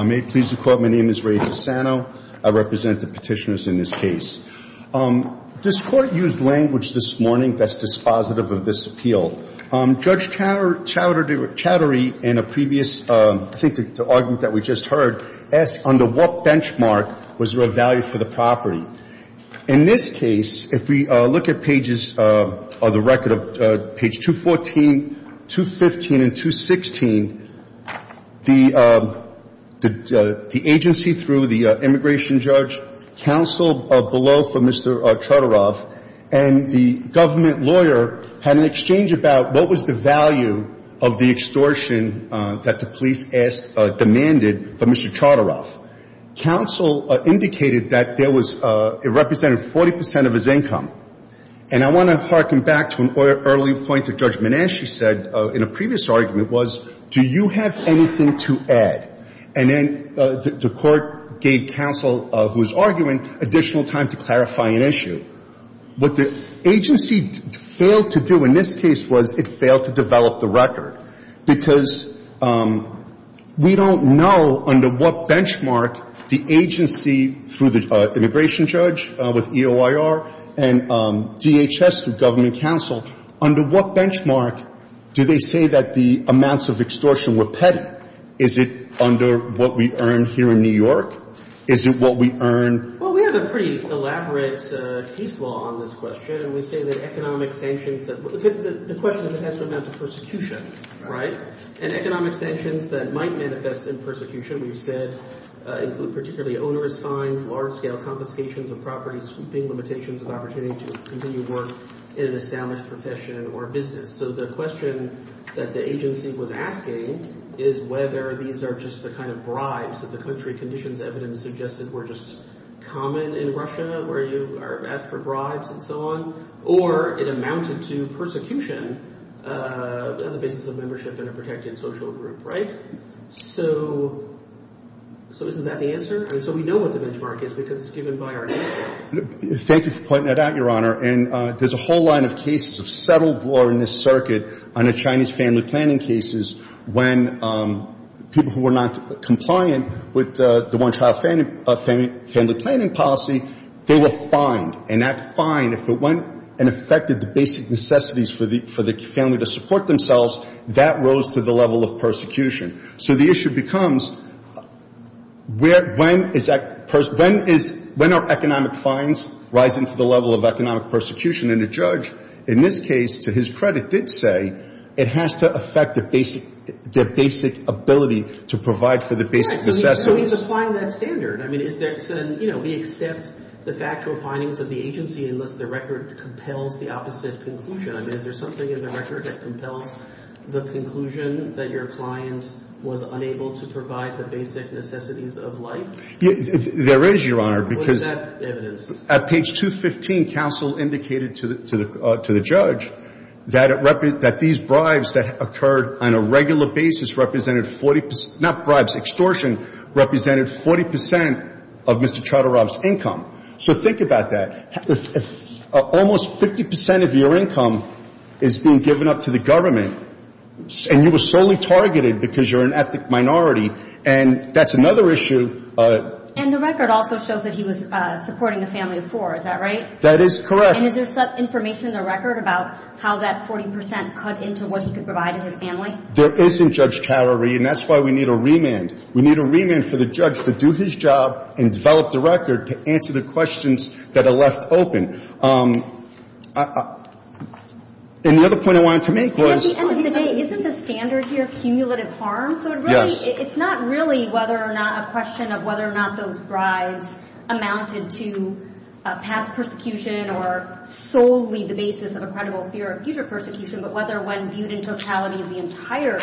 I may please the Court, my name is Ray Fasano. I represent the petitioners in this case. This Court used language this morning that's dispositive of this appeal. Judge Chowdhury, in a previous, I think, argument that we just heard, asked under what benchmark was there a value for the property. In this case, if we look at pages, or the record of page 214, 215 and 216, the agency through the immigration judge, counsel below for Mr. Chodorov, and the government lawyer had an exchange about what was the value of the extortion that the police demanded for Mr. Chodorov. Counsel indicated that there was, it represented 40% of his income. And I want to harken back to an early point that Judge Menasche said in a previous argument was, do you have anything to add? And then the Court gave counsel, who was arguing, additional time to clarify an issue. What the agency failed to do in this case was it failed to develop the record, because we don't know under what benchmark the agency through the immigration judge, with EOIR, and DHS, the government counsel, under what benchmark do they say that the amounts of extortion were petty? Is it under what we earn here in New York? Is it what we earn? Well, we have a pretty elaborate case law on this question, and we say that economic sanctions that the question is it has to amount to persecution, right? And economic sanctions that might manifest in persecution, we've said, include particularly onerous fines, large-scale confiscations of property, sweeping limitations of opportunity to continue work in an established profession or business. So the question that the agency was asking is whether these are just the kind of bribes that the country conditions evidence suggested were just common in Russia, where you are asked for bribes and so on, or it amounted to persecution on the basis of membership in a protected social group, right? So isn't that the answer? I mean, so we know what the benchmark is because it's given by our agency. Thank you for pointing that out, Your Honor. And there's a whole line of cases of settled law in this circuit under Chinese family planning cases when people who were not compliant with the one-child family planning policy, they were fined. And that fine, if it went and affected the basic necessities for the family to support themselves, that rose to the level of persecution. So the issue becomes when is that person – when is – when are economic fines rising to the level of economic persecution? And the judge, in this case, to his credit, did say it has to affect the basic – their basic ability to provide for the basic necessities. Yes, but he's applying that standard. I mean, is there – you know, he accepts the factual findings of the agency unless the record compels the opposite conclusion. I mean, is there something in the record that compels the conclusion that your client was unable to provide the basic necessities of life? There is, Your Honor, because – What is that evidence? At page 215, counsel indicated to the judge that it – that these bribes that occurred on a regular basis represented 40 – not bribes, extortion – represented 40 percent of Mr. Chatterob's income. So think about that. Almost 50 percent of your income is being given up to the government, and you were solely targeted because you're an ethnic minority. And that's another issue. And the record also shows that he was supporting a family of four. Is that right? That is correct. And is there some information in the record about how that 40 percent cut into what he could provide to his family? There isn't, Judge Cowery, and that's why we need a remand. We need a remand for the judge to do his job and develop the record to answer the questions that are left open. And the other point I wanted to make was – At the end of the day, isn't the standard here cumulative harm? Yes. So it really – it's not really whether or not – a question of whether or not those bribes amounted to past persecution or solely the basis of a credible fear of future persecution, but whether one viewed in totality the entire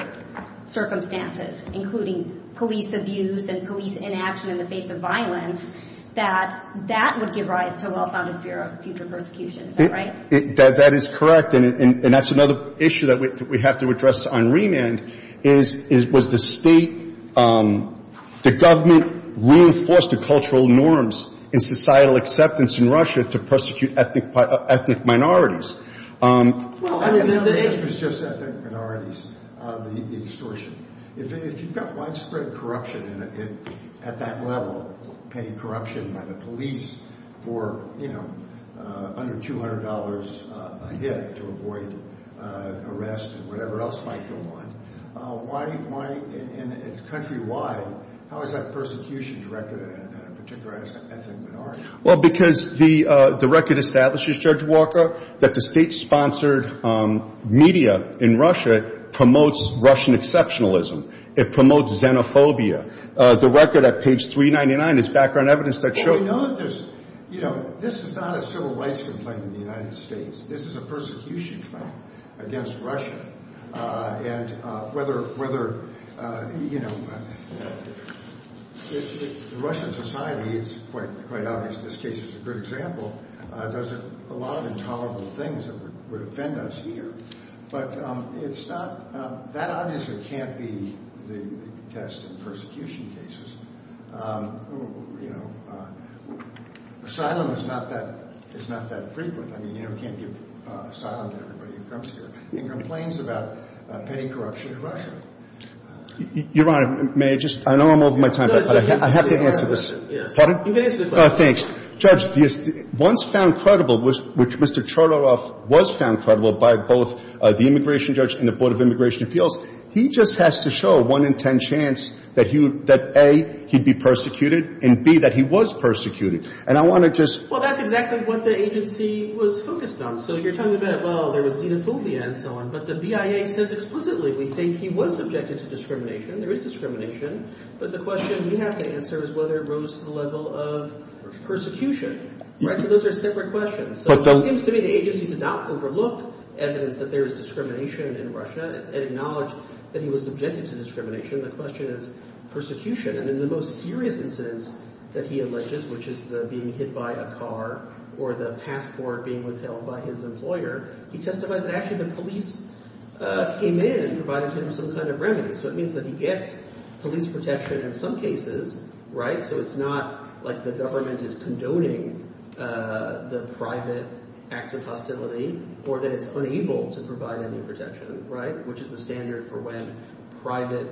circumstances, including police abuse and police inaction in the face of violence, that that would give rise to a well-founded fear of future persecution. Is that right? That is correct. And that's another issue that we have to address on remand, is was the state – the government reinforced the cultural norms and societal acceptance in Russia to persecute ethnic minorities. The answer is just ethnic minorities, the extortion. If you've got widespread corruption at that level, paying corruption by the police for, you know, under $200 a hit to avoid arrest and whatever else might go on, why – and countrywide, how is that persecution directed at a particular ethnic minority? Well, because the record establishes, Judge Walker, that the state-sponsored media in Russia promotes Russian exceptionalism. It promotes xenophobia. The record at page 399 is background evidence that shows – Well, we know that there's – you know, this is not a civil rights complaint in the United States. This is a persecution complaint against Russia. And whether – you know, the Russian society, it's quite obvious this case is a good example, does a lot of intolerable things that would offend us here. But it's not – that obviously can't be the test in persecution cases. You know, asylum is not that – is not that frequent. I mean, you can't give asylum to everybody who comes here and complains about paying corruption in Russia. Your Honor, may I just – I know I'm over my time, but I have to answer this. Yes. Pardon? You can answer the question. Thanks. Judge, the – once found credible, which Mr. Chororov was found credible by both the immigration judge and the Board of Immigration Appeals, he just has to show a 1 in 10 chance that he would – that, A, he'd be persecuted, and, B, that he was persecuted. And I want to just – Well, that's exactly what the agency was focused on. So you're talking about, well, there was xenophobia and so on, but the BIA says explicitly we think he was subjected to discrimination. There is discrimination. But the question we have to answer is whether it rose to the level of persecution. Right? So those are separate questions. So it seems to me the agency did not overlook evidence that there is discrimination in Russia and acknowledged that he was subjected to discrimination. The question is persecution. And in the most serious incidents that he alleges, which is the being hit by a car or the passport being withheld by his employer, he testified that actually the police came in and provided him some kind of remedy. So it means that he gets police protection in some cases, right? So it's not like the government is condoning the private acts of hostility or that it's unable to provide any protection, right, which is the standard for when private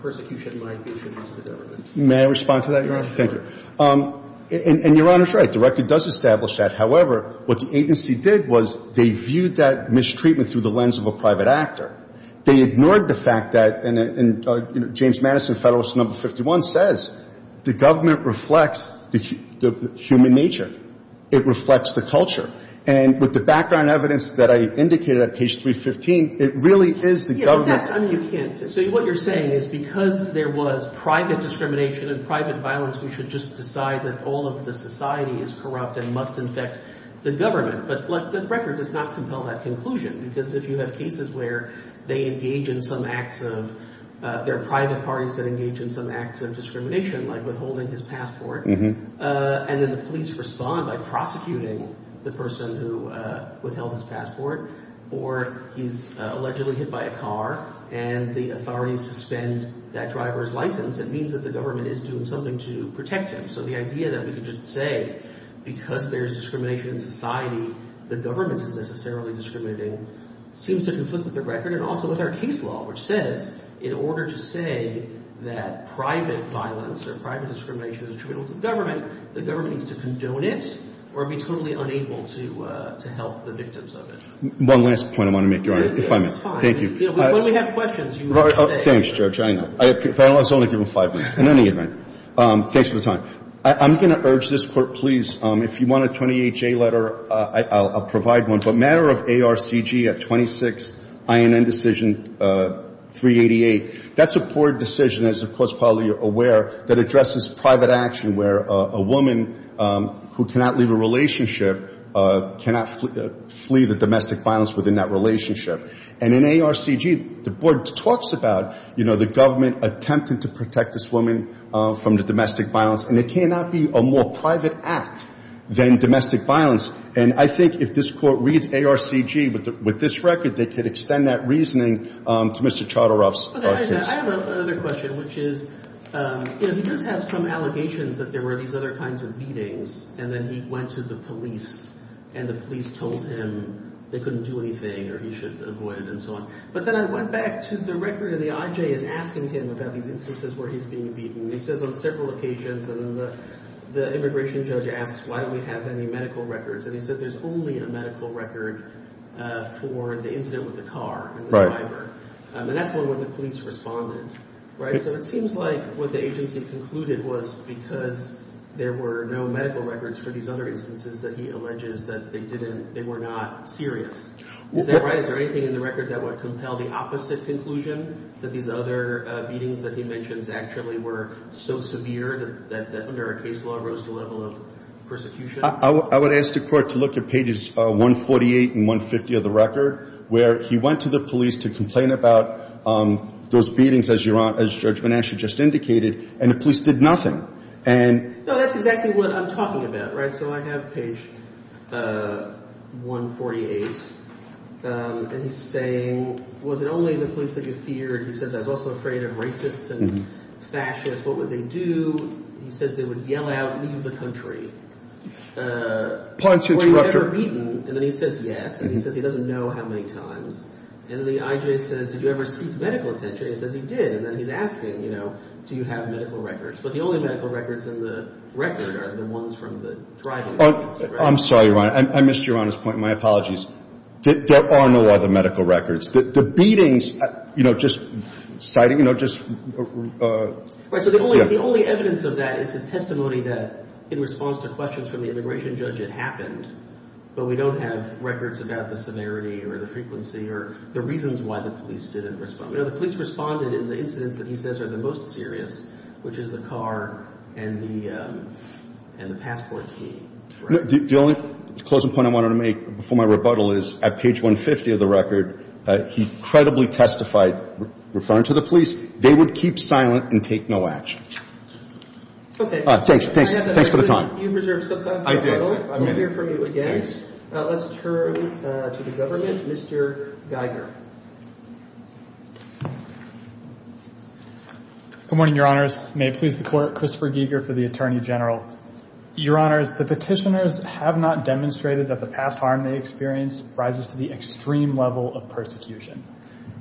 persecution might be issued to the government. May I respond to that, Your Honor? Sure. Thank you. And Your Honor's right. The record does establish that. However, what the agency did was they viewed that mistreatment through the lens of a private actor. They ignored the fact that, and James Madison, Federalist No. 51, says the government reflects the human nature. It reflects the culture. And with the background evidence that I indicated at page 315, it really is the government You know, that's, I mean, you can't. So what you're saying is because there was private discrimination and private violence, we should just decide that all of the society is corrupt and must infect the government. But the record does not compel that conclusion. Because if you have cases where they engage in some acts of, there are private parties that engage in some acts of discrimination, like withholding his passport, and then the police respond by prosecuting the person who withheld his passport, or he's allegedly hit by a car and the authorities suspend that driver's license, it means that the government is doing something to protect him. So the idea that we could just say because there's discrimination in society, the government is necessarily discriminating seems to conflict with the record and also with our case law, which says in order to say that private violence or private discrimination is attributable to the government, the government needs to condone it or be totally unable to help the victims of it. One last point I want to make, Your Honor. If I may. Thank you. When we have questions, you can say. Thanks, Judge. I know. The panel has only given five minutes. In any event, thanks for the time. I'm going to urge this Court, please, if you want a 28J letter, I'll provide one. But matter of ARCG at 26, INN decision 388, that's a poor decision, as of course probably you're aware, that addresses private action where a woman who cannot leave a relationship cannot flee the domestic violence within that relationship. And in ARCG, the Board talks about, you know, the government attempting to protect this woman from the domestic violence, and it cannot be a more private act than domestic violence. And I think if this Court reads ARCG with this record, they could extend that reasoning to Mr. Charteroff's case. I have another question, which is, you know, he does have some allegations that there were these other kinds of meetings, and then he went to the police, and the police told him they couldn't do anything or he should avoid it and so on. But then I went back to the record, and the IJ is asking him about these instances where he's being beaten. And he says on several occasions, and then the immigration judge asks, why don't we have any medical records? And he says there's only a medical record for the incident with the car and the driver. And that's when the police responded, right? So it seems like what the agency concluded was because there were no medical records for these other instances that he alleges that they were not serious. Is that right? Is there anything in the record that would compel the opposite conclusion, that these other meetings that he mentions actually were so severe that under a case law rose to the level of persecution? I would ask the Court to look at pages 148 and 150 of the record, where he went to the police to complain about those meetings, as Judge Banasch just indicated, and the police did nothing. No, that's exactly what I'm talking about, right? So I have page 148, and he's saying, was it only the police that you feared? He says, I was also afraid of racists and fascists. What would they do? He says they would yell out, leave the country. Were you ever beaten? And then he says yes, and he says he doesn't know how many times. And the IJ says, did you ever seek medical attention? He says he did, and then he's asking, you know, do you have medical records? But the only medical records in the record are the ones from the driving. I'm sorry, Your Honor. I missed Your Honor's point. My apologies. There are no other medical records. The beatings, you know, just sighting, you know, just – Right, so the only evidence of that is his testimony that in response to questions from the immigration judge it happened, but we don't have records about the severity or the frequency or the reasons why the police didn't respond. You know, the police responded in the incidents that he says are the most serious, which is the car and the passport scheme. The only closing point I wanted to make before my rebuttal is at page 150 of the record, he credibly testified referring to the police. They would keep silent and take no action. Okay. Thanks. Thanks for the time. You reserved some time for rebuttal. I did. I'm here for you again. Let's turn to the government. Mr. Geiger. Good morning, Your Honors. May it please the Court. Christopher Geiger for the Attorney General. Your Honors, the petitioners have not demonstrated that the past harm they experienced rises to the extreme level of persecution.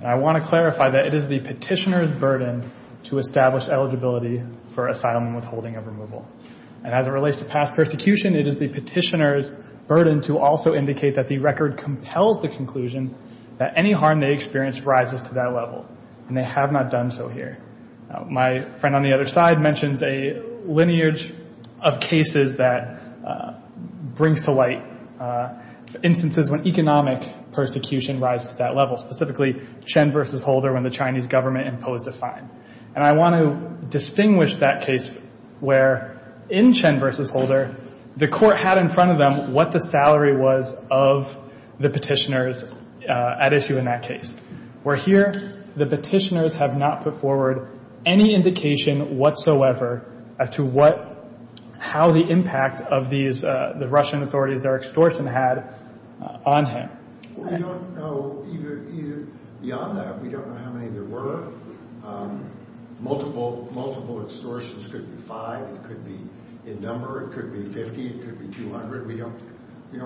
And I want to clarify that it is the petitioner's burden to establish eligibility for asylum and withholding of removal. And as it relates to past persecution, it is the petitioner's burden to also indicate that the record compels the conclusion that any harm they experience rises to that level. And they have not done so here. My friend on the other side mentions a lineage of cases that brings to light instances when economic persecution rises to that level, specifically Chen v. Holder when the Chinese government imposed a fine. And I want to distinguish that case where, in Chen v. Holder, the Court had in front of them what the salary was of the petitioners at issue in that case, where here the petitioners have not put forward any indication whatsoever as to how the impact of the Russian authorities, their extortion had on him. We don't know beyond that. We don't know how many there were. Multiple extortions could be five. It could be a number. It could be 50. It could be 200. We don't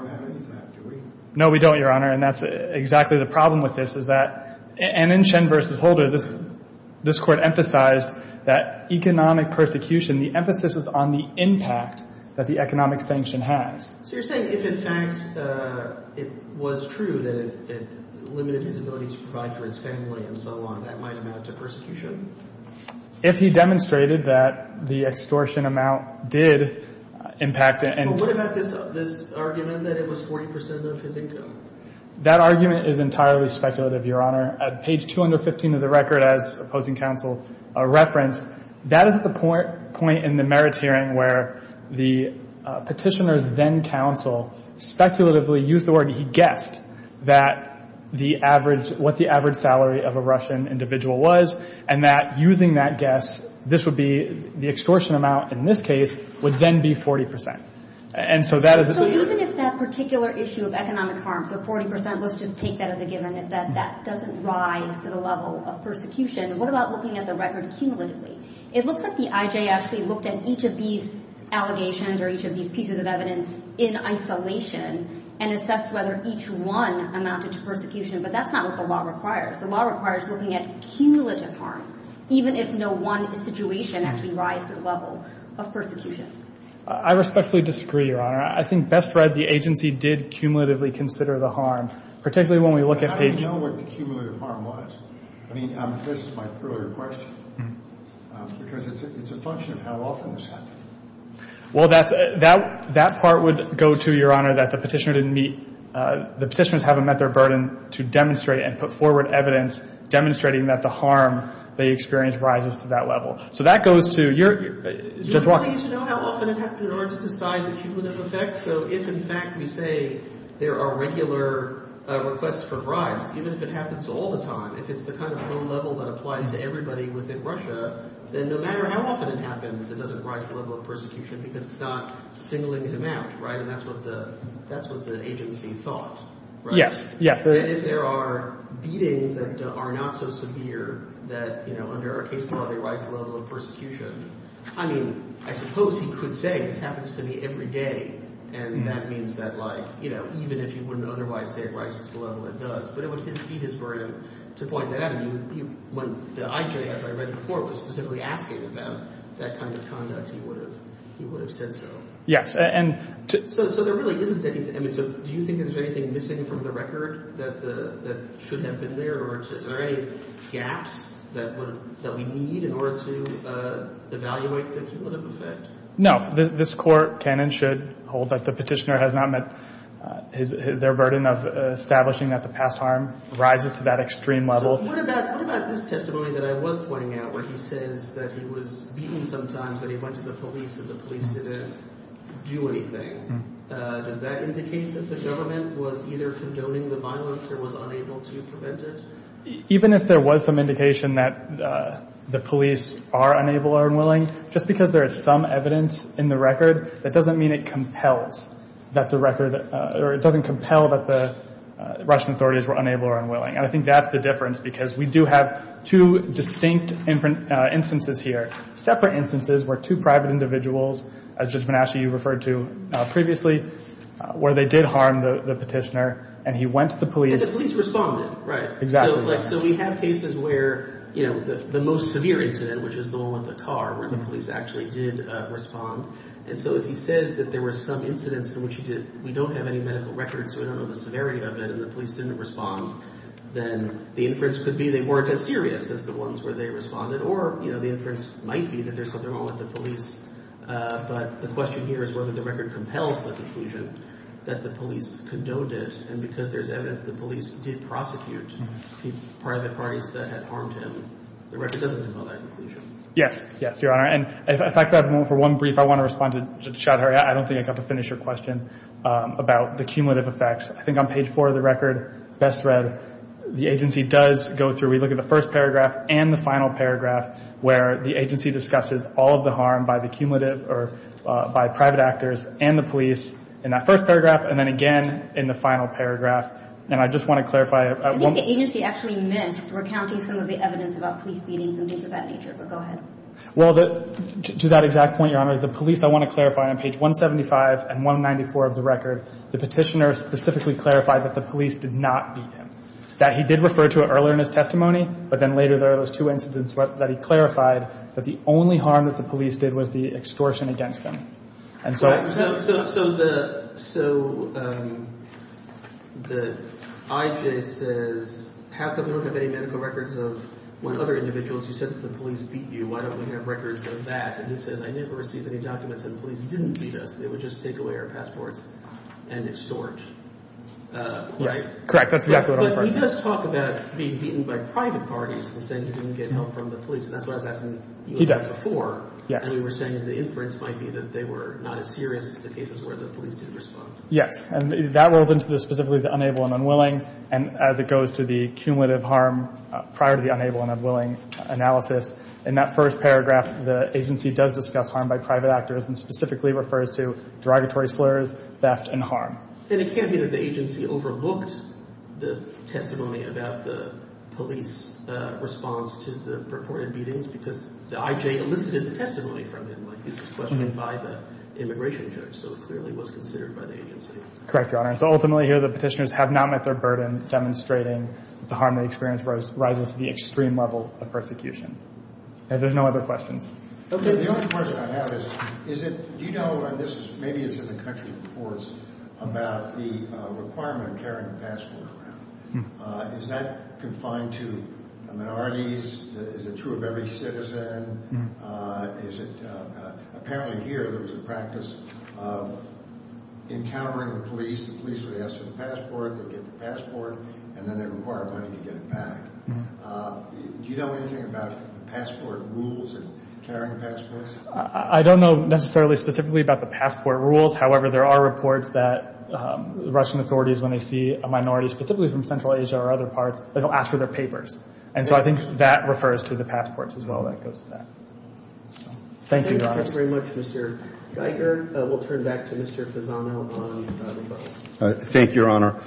have any of that, do we? No, we don't, Your Honor. And that's exactly the problem with this is that, and in Chen v. Holder, this Court emphasized that economic persecution, the emphasis is on the impact that the economic sanction has. So you're saying if in fact it was true that it limited his ability to provide for his family and so on, that might amount to persecution? If he demonstrated that the extortion amount did impact it. But what about this argument that it was 40 percent of his income? That argument is entirely speculative, Your Honor. At page 215 of the record, as opposing counsel referenced, that is the point in the merits hearing where the petitioners then counsel speculatively used the word he guessed what the average salary of a Russian individual was and that using that guess, the extortion amount in this case would then be 40 percent. So even if that particular issue of economic harm, so 40 percent, let's just take that as a given, if that doesn't rise to the level of persecution, what about looking at the record cumulatively? It looks like the IJ actually looked at each of these allegations or each of these pieces of evidence in isolation and assessed whether each one amounted to persecution. But that's not what the law requires. The law requires looking at cumulative harm, even if no one situation actually rises to the level of persecution. I respectfully disagree, Your Honor. I think best read, the agency did cumulatively consider the harm, particularly when we look at page- But how do you know what the cumulative harm was? I mean, this is my earlier question, because it's a function of how often this happens. Well, that's – that part would go to, Your Honor, that the petitioner didn't meet – the petitioners haven't met their burden to demonstrate and put forward evidence demonstrating that the harm they experienced rises to that level. So that goes to your – Judge Walker. Do you want me to know how often it happened in order to decide the cumulative effect? So if, in fact, we say there are regular requests for bribes, even if it happens all the time, if it's the kind of low level that applies to everybody within Russia, then no matter how often it happens, it doesn't rise to the level of persecution because it's not singling him out, right? And that's what the – that's what the agency thought, right? Yes. Yes. And if there are beatings that are not so severe that, you know, under our case law they rise to the level of persecution, I mean, I suppose he could say this happens to me every day, and that means that, like, you know, even if he wouldn't otherwise say it rises to the level it does, but it would be his burden to point that out. The IJ, as I read it before, was specifically asking about that kind of conduct. He would have said so. Yes. So there really isn't anything – I mean, so do you think there's anything missing from the record that should have been there, or are there any gaps that we need in order to evaluate the cumulative effect? No. This Court can and should hold that the petitioner has not met their burden of establishing that the past harm rises to that extreme level. What about this testimony that I was pointing out where he says that he was beaten sometimes, that he went to the police and the police didn't do anything? Does that indicate that the government was either condoning the violence or was unable to prevent it? Even if there was some indication that the police are unable or unwilling, just because there is some evidence in the record, that doesn't mean it compels that the record – or it doesn't compel that the Russian authorities were unable or unwilling. And I think that's the difference, because we do have two distinct instances here. Separate instances were two private individuals, as Judge Bonacci, you referred to previously, where they did harm the petitioner, and he went to the police. And the police responded, right? Exactly. So we have cases where the most severe incident, which is the one with the car, where the police actually did respond. And so if he says that there were some incidents in which we don't have any medical records or we don't know the severity of it and the police didn't respond, then the inference could be they weren't as serious as the ones where they responded. Or, you know, the inference might be that there's something wrong with the police, but the question here is whether the record compels the conclusion that the police condoned it. And because there's evidence the police did prosecute private parties that had harmed him, the record doesn't compel that conclusion. Yes. Yes, Your Honor. And if I could have a moment for one brief, I want to respond to Chowdhury. I don't think I have to finish your question about the cumulative effects. I think on page four of the record, best read, the agency does go through. We look at the first paragraph and the final paragraph, where the agency discusses all of the harm by the cumulative or by private actors and the police in that first paragraph and then again in the final paragraph. And I just want to clarify. I think the agency actually missed recounting some of the evidence about police beatings and things of that nature, but go ahead. On page 175 and 194 of the record, the petitioner specifically clarified that the police did not beat him, that he did refer to it earlier in his testimony, but then later there are those two incidents that he clarified that the only harm that the police did was the extortion against him. And so the IJ says, how come you don't have any medical records of what other individuals, you said that the police beat you. Why don't we have records of that? And he says, I never received any documents that the police didn't beat us. They would just take away our passports and extort, right? Yes, correct. That's exactly what I'm referring to. But he does talk about being beaten by private parties and saying he didn't get help from the police, and that's what I was asking you about before. He does, yes. And you were saying that the inference might be that they were not as serious as the cases where the police didn't respond. Yes, and that rolls into specifically the unable and unwilling, and as it goes to the cumulative harm prior to the unable and unwilling analysis. In that first paragraph, the agency does discuss harm by private actors and specifically refers to derogatory slurs, theft, and harm. And it can't be that the agency overlooked the testimony about the police response to the purported beatings because the IJ elicited the testimony from him, like this is questioned by the immigration judge, so it clearly was considered by the agency. Correct, Your Honor. So ultimately here the petitioners have not met their burden in demonstrating that the harm they experienced rises to the extreme level of persecution. Are there no other questions? The only question I have is do you know, maybe it's in the country reports, about the requirement of carrying a passport around? Is that confined to minorities? Is it true of every citizen? Apparently here there was a practice of encountering the police. The police would ask for the passport, they'd get the passport, and then they'd require money to get it back. Do you know anything about passport rules and carrying passports? I don't know necessarily specifically about the passport rules. However, there are reports that Russian authorities, when they see a minority specifically from Central Asia or other parts, they don't ask for their papers. And so I think that refers to the passports as well that goes to that. Thank you, Your Honor. Thank you very much, Mr. Geiger. We'll turn back to Mr. Fasano. Thank you, Your Honor.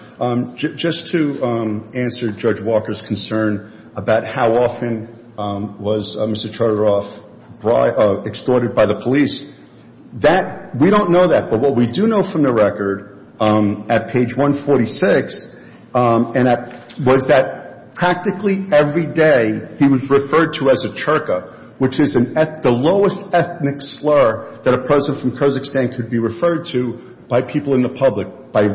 Just to answer Judge Walker's concern about how often was Mr. Charteroff extorted by the police, we don't know that. But what we do know from the record at page 146 was that practically every day he was referred to as a Cherka, which is the lowest ethnic slur that a person from Kyrgyzstan could be referred to by people in the public, by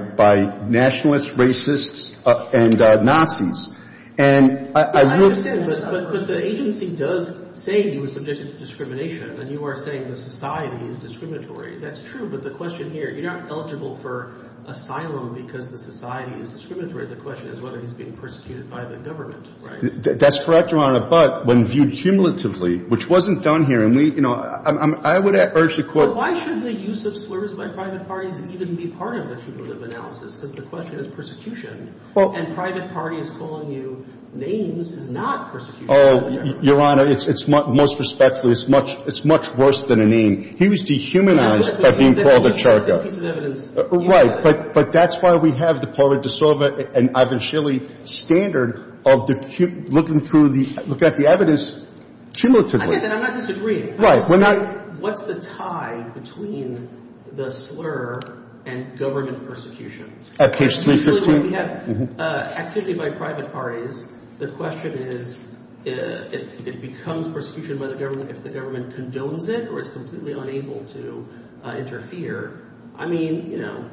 nationalists, racists, and Nazis. And I do understand that. But the agency does say he was subjected to discrimination, and you are saying the society is discriminatory. That's true. But the question here, you're not eligible for asylum because the society is discriminatory. The question is whether he's being persecuted by the government, right? That's correct, Your Honor. But when viewed cumulatively, which wasn't done here, and we, you know, I would urge the Court Well, why should the use of slurs by private parties even be part of the cumulative analysis? Because the question is persecution. And private parties calling you names is not persecution. Oh, Your Honor, it's most respectfully, it's much worse than a name. He was dehumanized by being called a Cherka. That's the piece of evidence. Right. But that's why we have the Pauli D'Souza and Ivan Shilley standard of looking through the, looking at the evidence cumulatively. I'm not disagreeing. Right. What's the tie between the slur and government persecution? At case 315? Usually when we have activity by private parties, the question is it becomes persecution by the government if the government condones it or is completely unable to interfere. I mean, you know,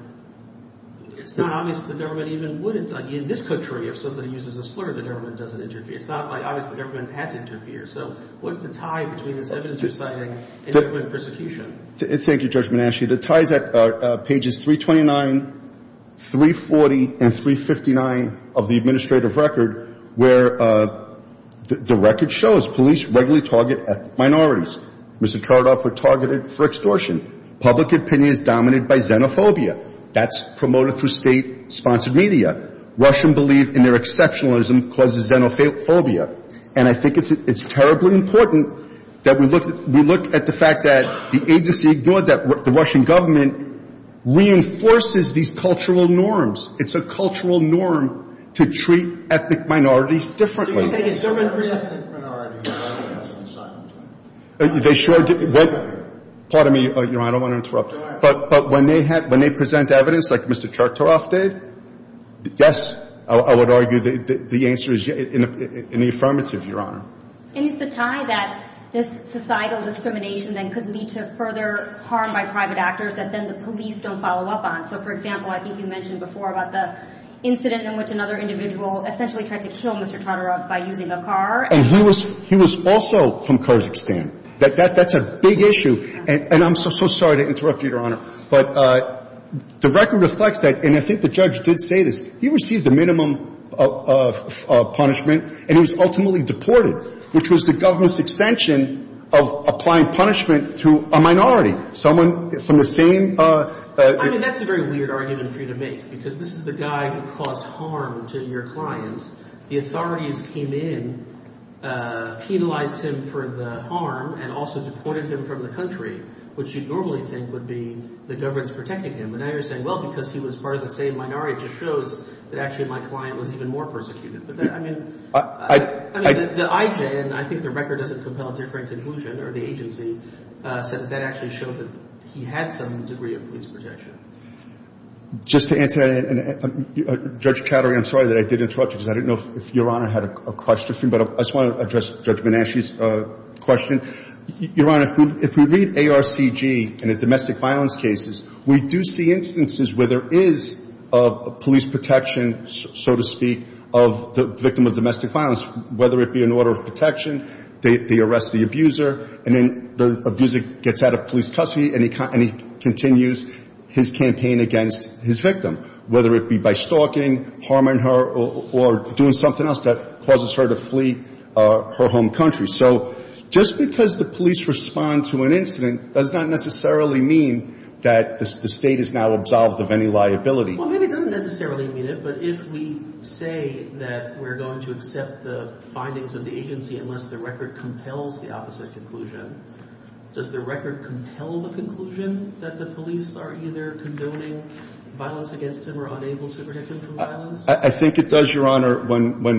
it's not obvious the government even would, like in this country, if somebody uses a slur, the government doesn't interfere. It's not like obviously the government had to interfere. So what's the tie between this evidence reciting and government persecution? Thank you, Judge Manasci. The ties are pages 329, 340, and 359 of the administrative record where the record shows police regularly target ethnic minorities. Mr. Kharadov put targeted for extortion. Public opinion is dominated by xenophobia. That's promoted through state-sponsored media. Russian believe in their exceptionalism causes xenophobia. And I think it's terribly important that we look at the fact that the agency ignored that. The Russian government reinforces these cultural norms. It's a cultural norm to treat ethnic minorities differently. They sure did. Pardon me, Your Honor, I don't want to interrupt. But when they present evidence like Mr. Kharadov did, yes, I would argue the answer is in the affirmative, Your Honor. And it's the tie that this societal discrimination then could lead to further harm by private actors that then the police don't follow up on. So, for example, I think you mentioned before about the incident in which another individual essentially tried to kill Mr. Kharadov. And he was also from Kazakhstan. That's a big issue. And I'm so, so sorry to interrupt you, Your Honor. But the record reflects that. And I think the judge did say this. He received a minimum of punishment and he was ultimately deported, which was the government's extension of applying punishment to a minority, someone from the same. I mean, that's a very weird argument for you to make because this is the guy who caused harm to your client. The authorities came in, penalized him for the harm, and also deported him from the country, which you'd normally think would be the government's protecting him. And now you're saying, well, because he was part of the same minority, it just shows that actually my client was even more persecuted. But, I mean, the IJN, and I think the record doesn't compel a different conclusion, or the agency, said that that actually showed that he had some degree of police protection. Just to answer that, Judge Cattery, I'm sorry that I did interrupt you because I didn't know if Your Honor had a question for you. But I just want to address Judge Benashi's question. Your Honor, if we read ARCG in the domestic violence cases, we do see instances where there is police protection, so to speak, of the victim of domestic violence, whether it be an order of protection, they arrest the abuser, and then the abuser gets out of police custody and he continues his sentence. He continues his campaign against his victim, whether it be by stalking, harming her, or doing something else that causes her to flee her home country. So just because the police respond to an incident does not necessarily mean that the State is now absolved of any liability. Well, maybe it doesn't necessarily mean it, but if we say that we're going to accept the findings of the agency unless the record compels the opposite conclusion, does the record compel the conclusion that the police are either condoning violence against him or unable to protect him from violence? I think it does, Your Honor. When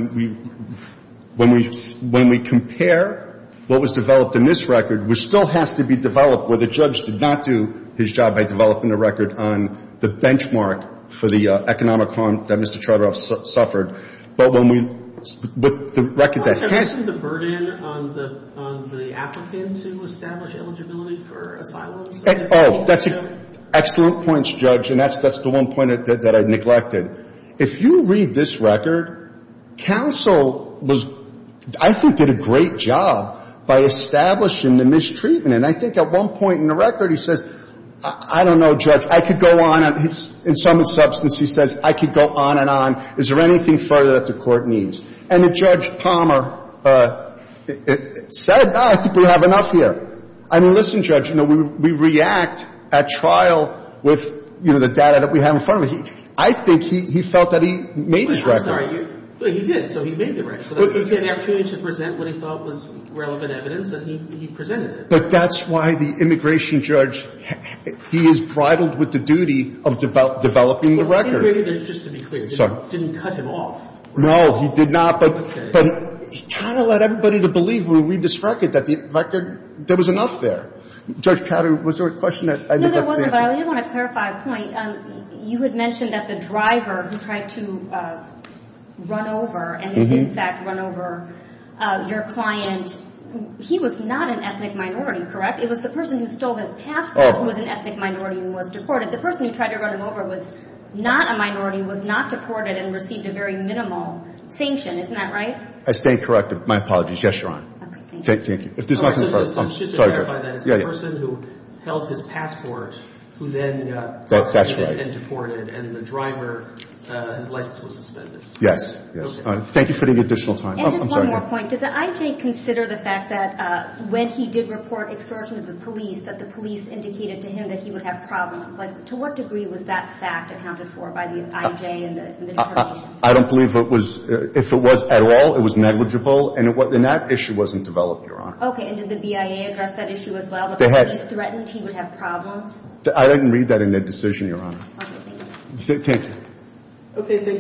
we compare what was developed in this record, which still has to be developed where the judge did not do his job by developing a record on the benchmark for the economic harm that Mr. Chardoff suffered. But when we – with the record that has – I'm asking the burden on the applicant to establish eligibility for asylum. Oh, that's – excellent points, Judge, and that's the one point that I neglected. If you read this record, counsel was – I think did a great job by establishing the mistreatment. And I think at one point in the record he says, I don't know, Judge, I could go on – in some substance he says, I could go on and on. Is there anything further that the Court needs? And Judge Palmer said, no, I think we have enough here. I mean, listen, Judge, you know, we react at trial with, you know, the data that we have in front of us. I think he felt that he made his record. I'm sorry. He did. So he made the record. He had the opportunity to present what he thought was relevant evidence, and he presented it. But that's why the immigration judge – he is bridled with the duty of developing the record. Just to be clear, he didn't cut him off. No, he did not. Okay. But he kind of led everybody to believe when we read this record that the record – there was enough there. Judge, was there a question that I didn't get to answer? No, there wasn't, but I did want to clarify a point. You had mentioned that the driver who tried to run over and, in fact, run over your client, he was not an ethnic minority, correct? It was the person who stole his passport who was an ethnic minority and was deported. The person who tried to run him over was not a minority, was not deported, and received a very minimal sanction. Isn't that right? I say correct. My apologies. Yes, Your Honor. Okay, thank you. Thank you. If there's nothing further, I'm sorry, Judge. I'm just going to clarify that. It's the person who held his passport who then got deported. That's right. And the driver, his license was suspended. Yes. Okay. Thank you for the additional time. And just one more point. Did the IJ consider the fact that when he did report extortion to the police, that the police indicated to him that he would have problems? To what degree was that fact accounted for by the IJ and the determination? I don't believe it was. If it was at all, it was negligible. And that issue wasn't developed, Your Honor. Okay. And did the BIA address that issue as well, that the police threatened he would have problems? I didn't read that in the decision, Your Honor. Okay, thank you. Thank you. Okay, thank you.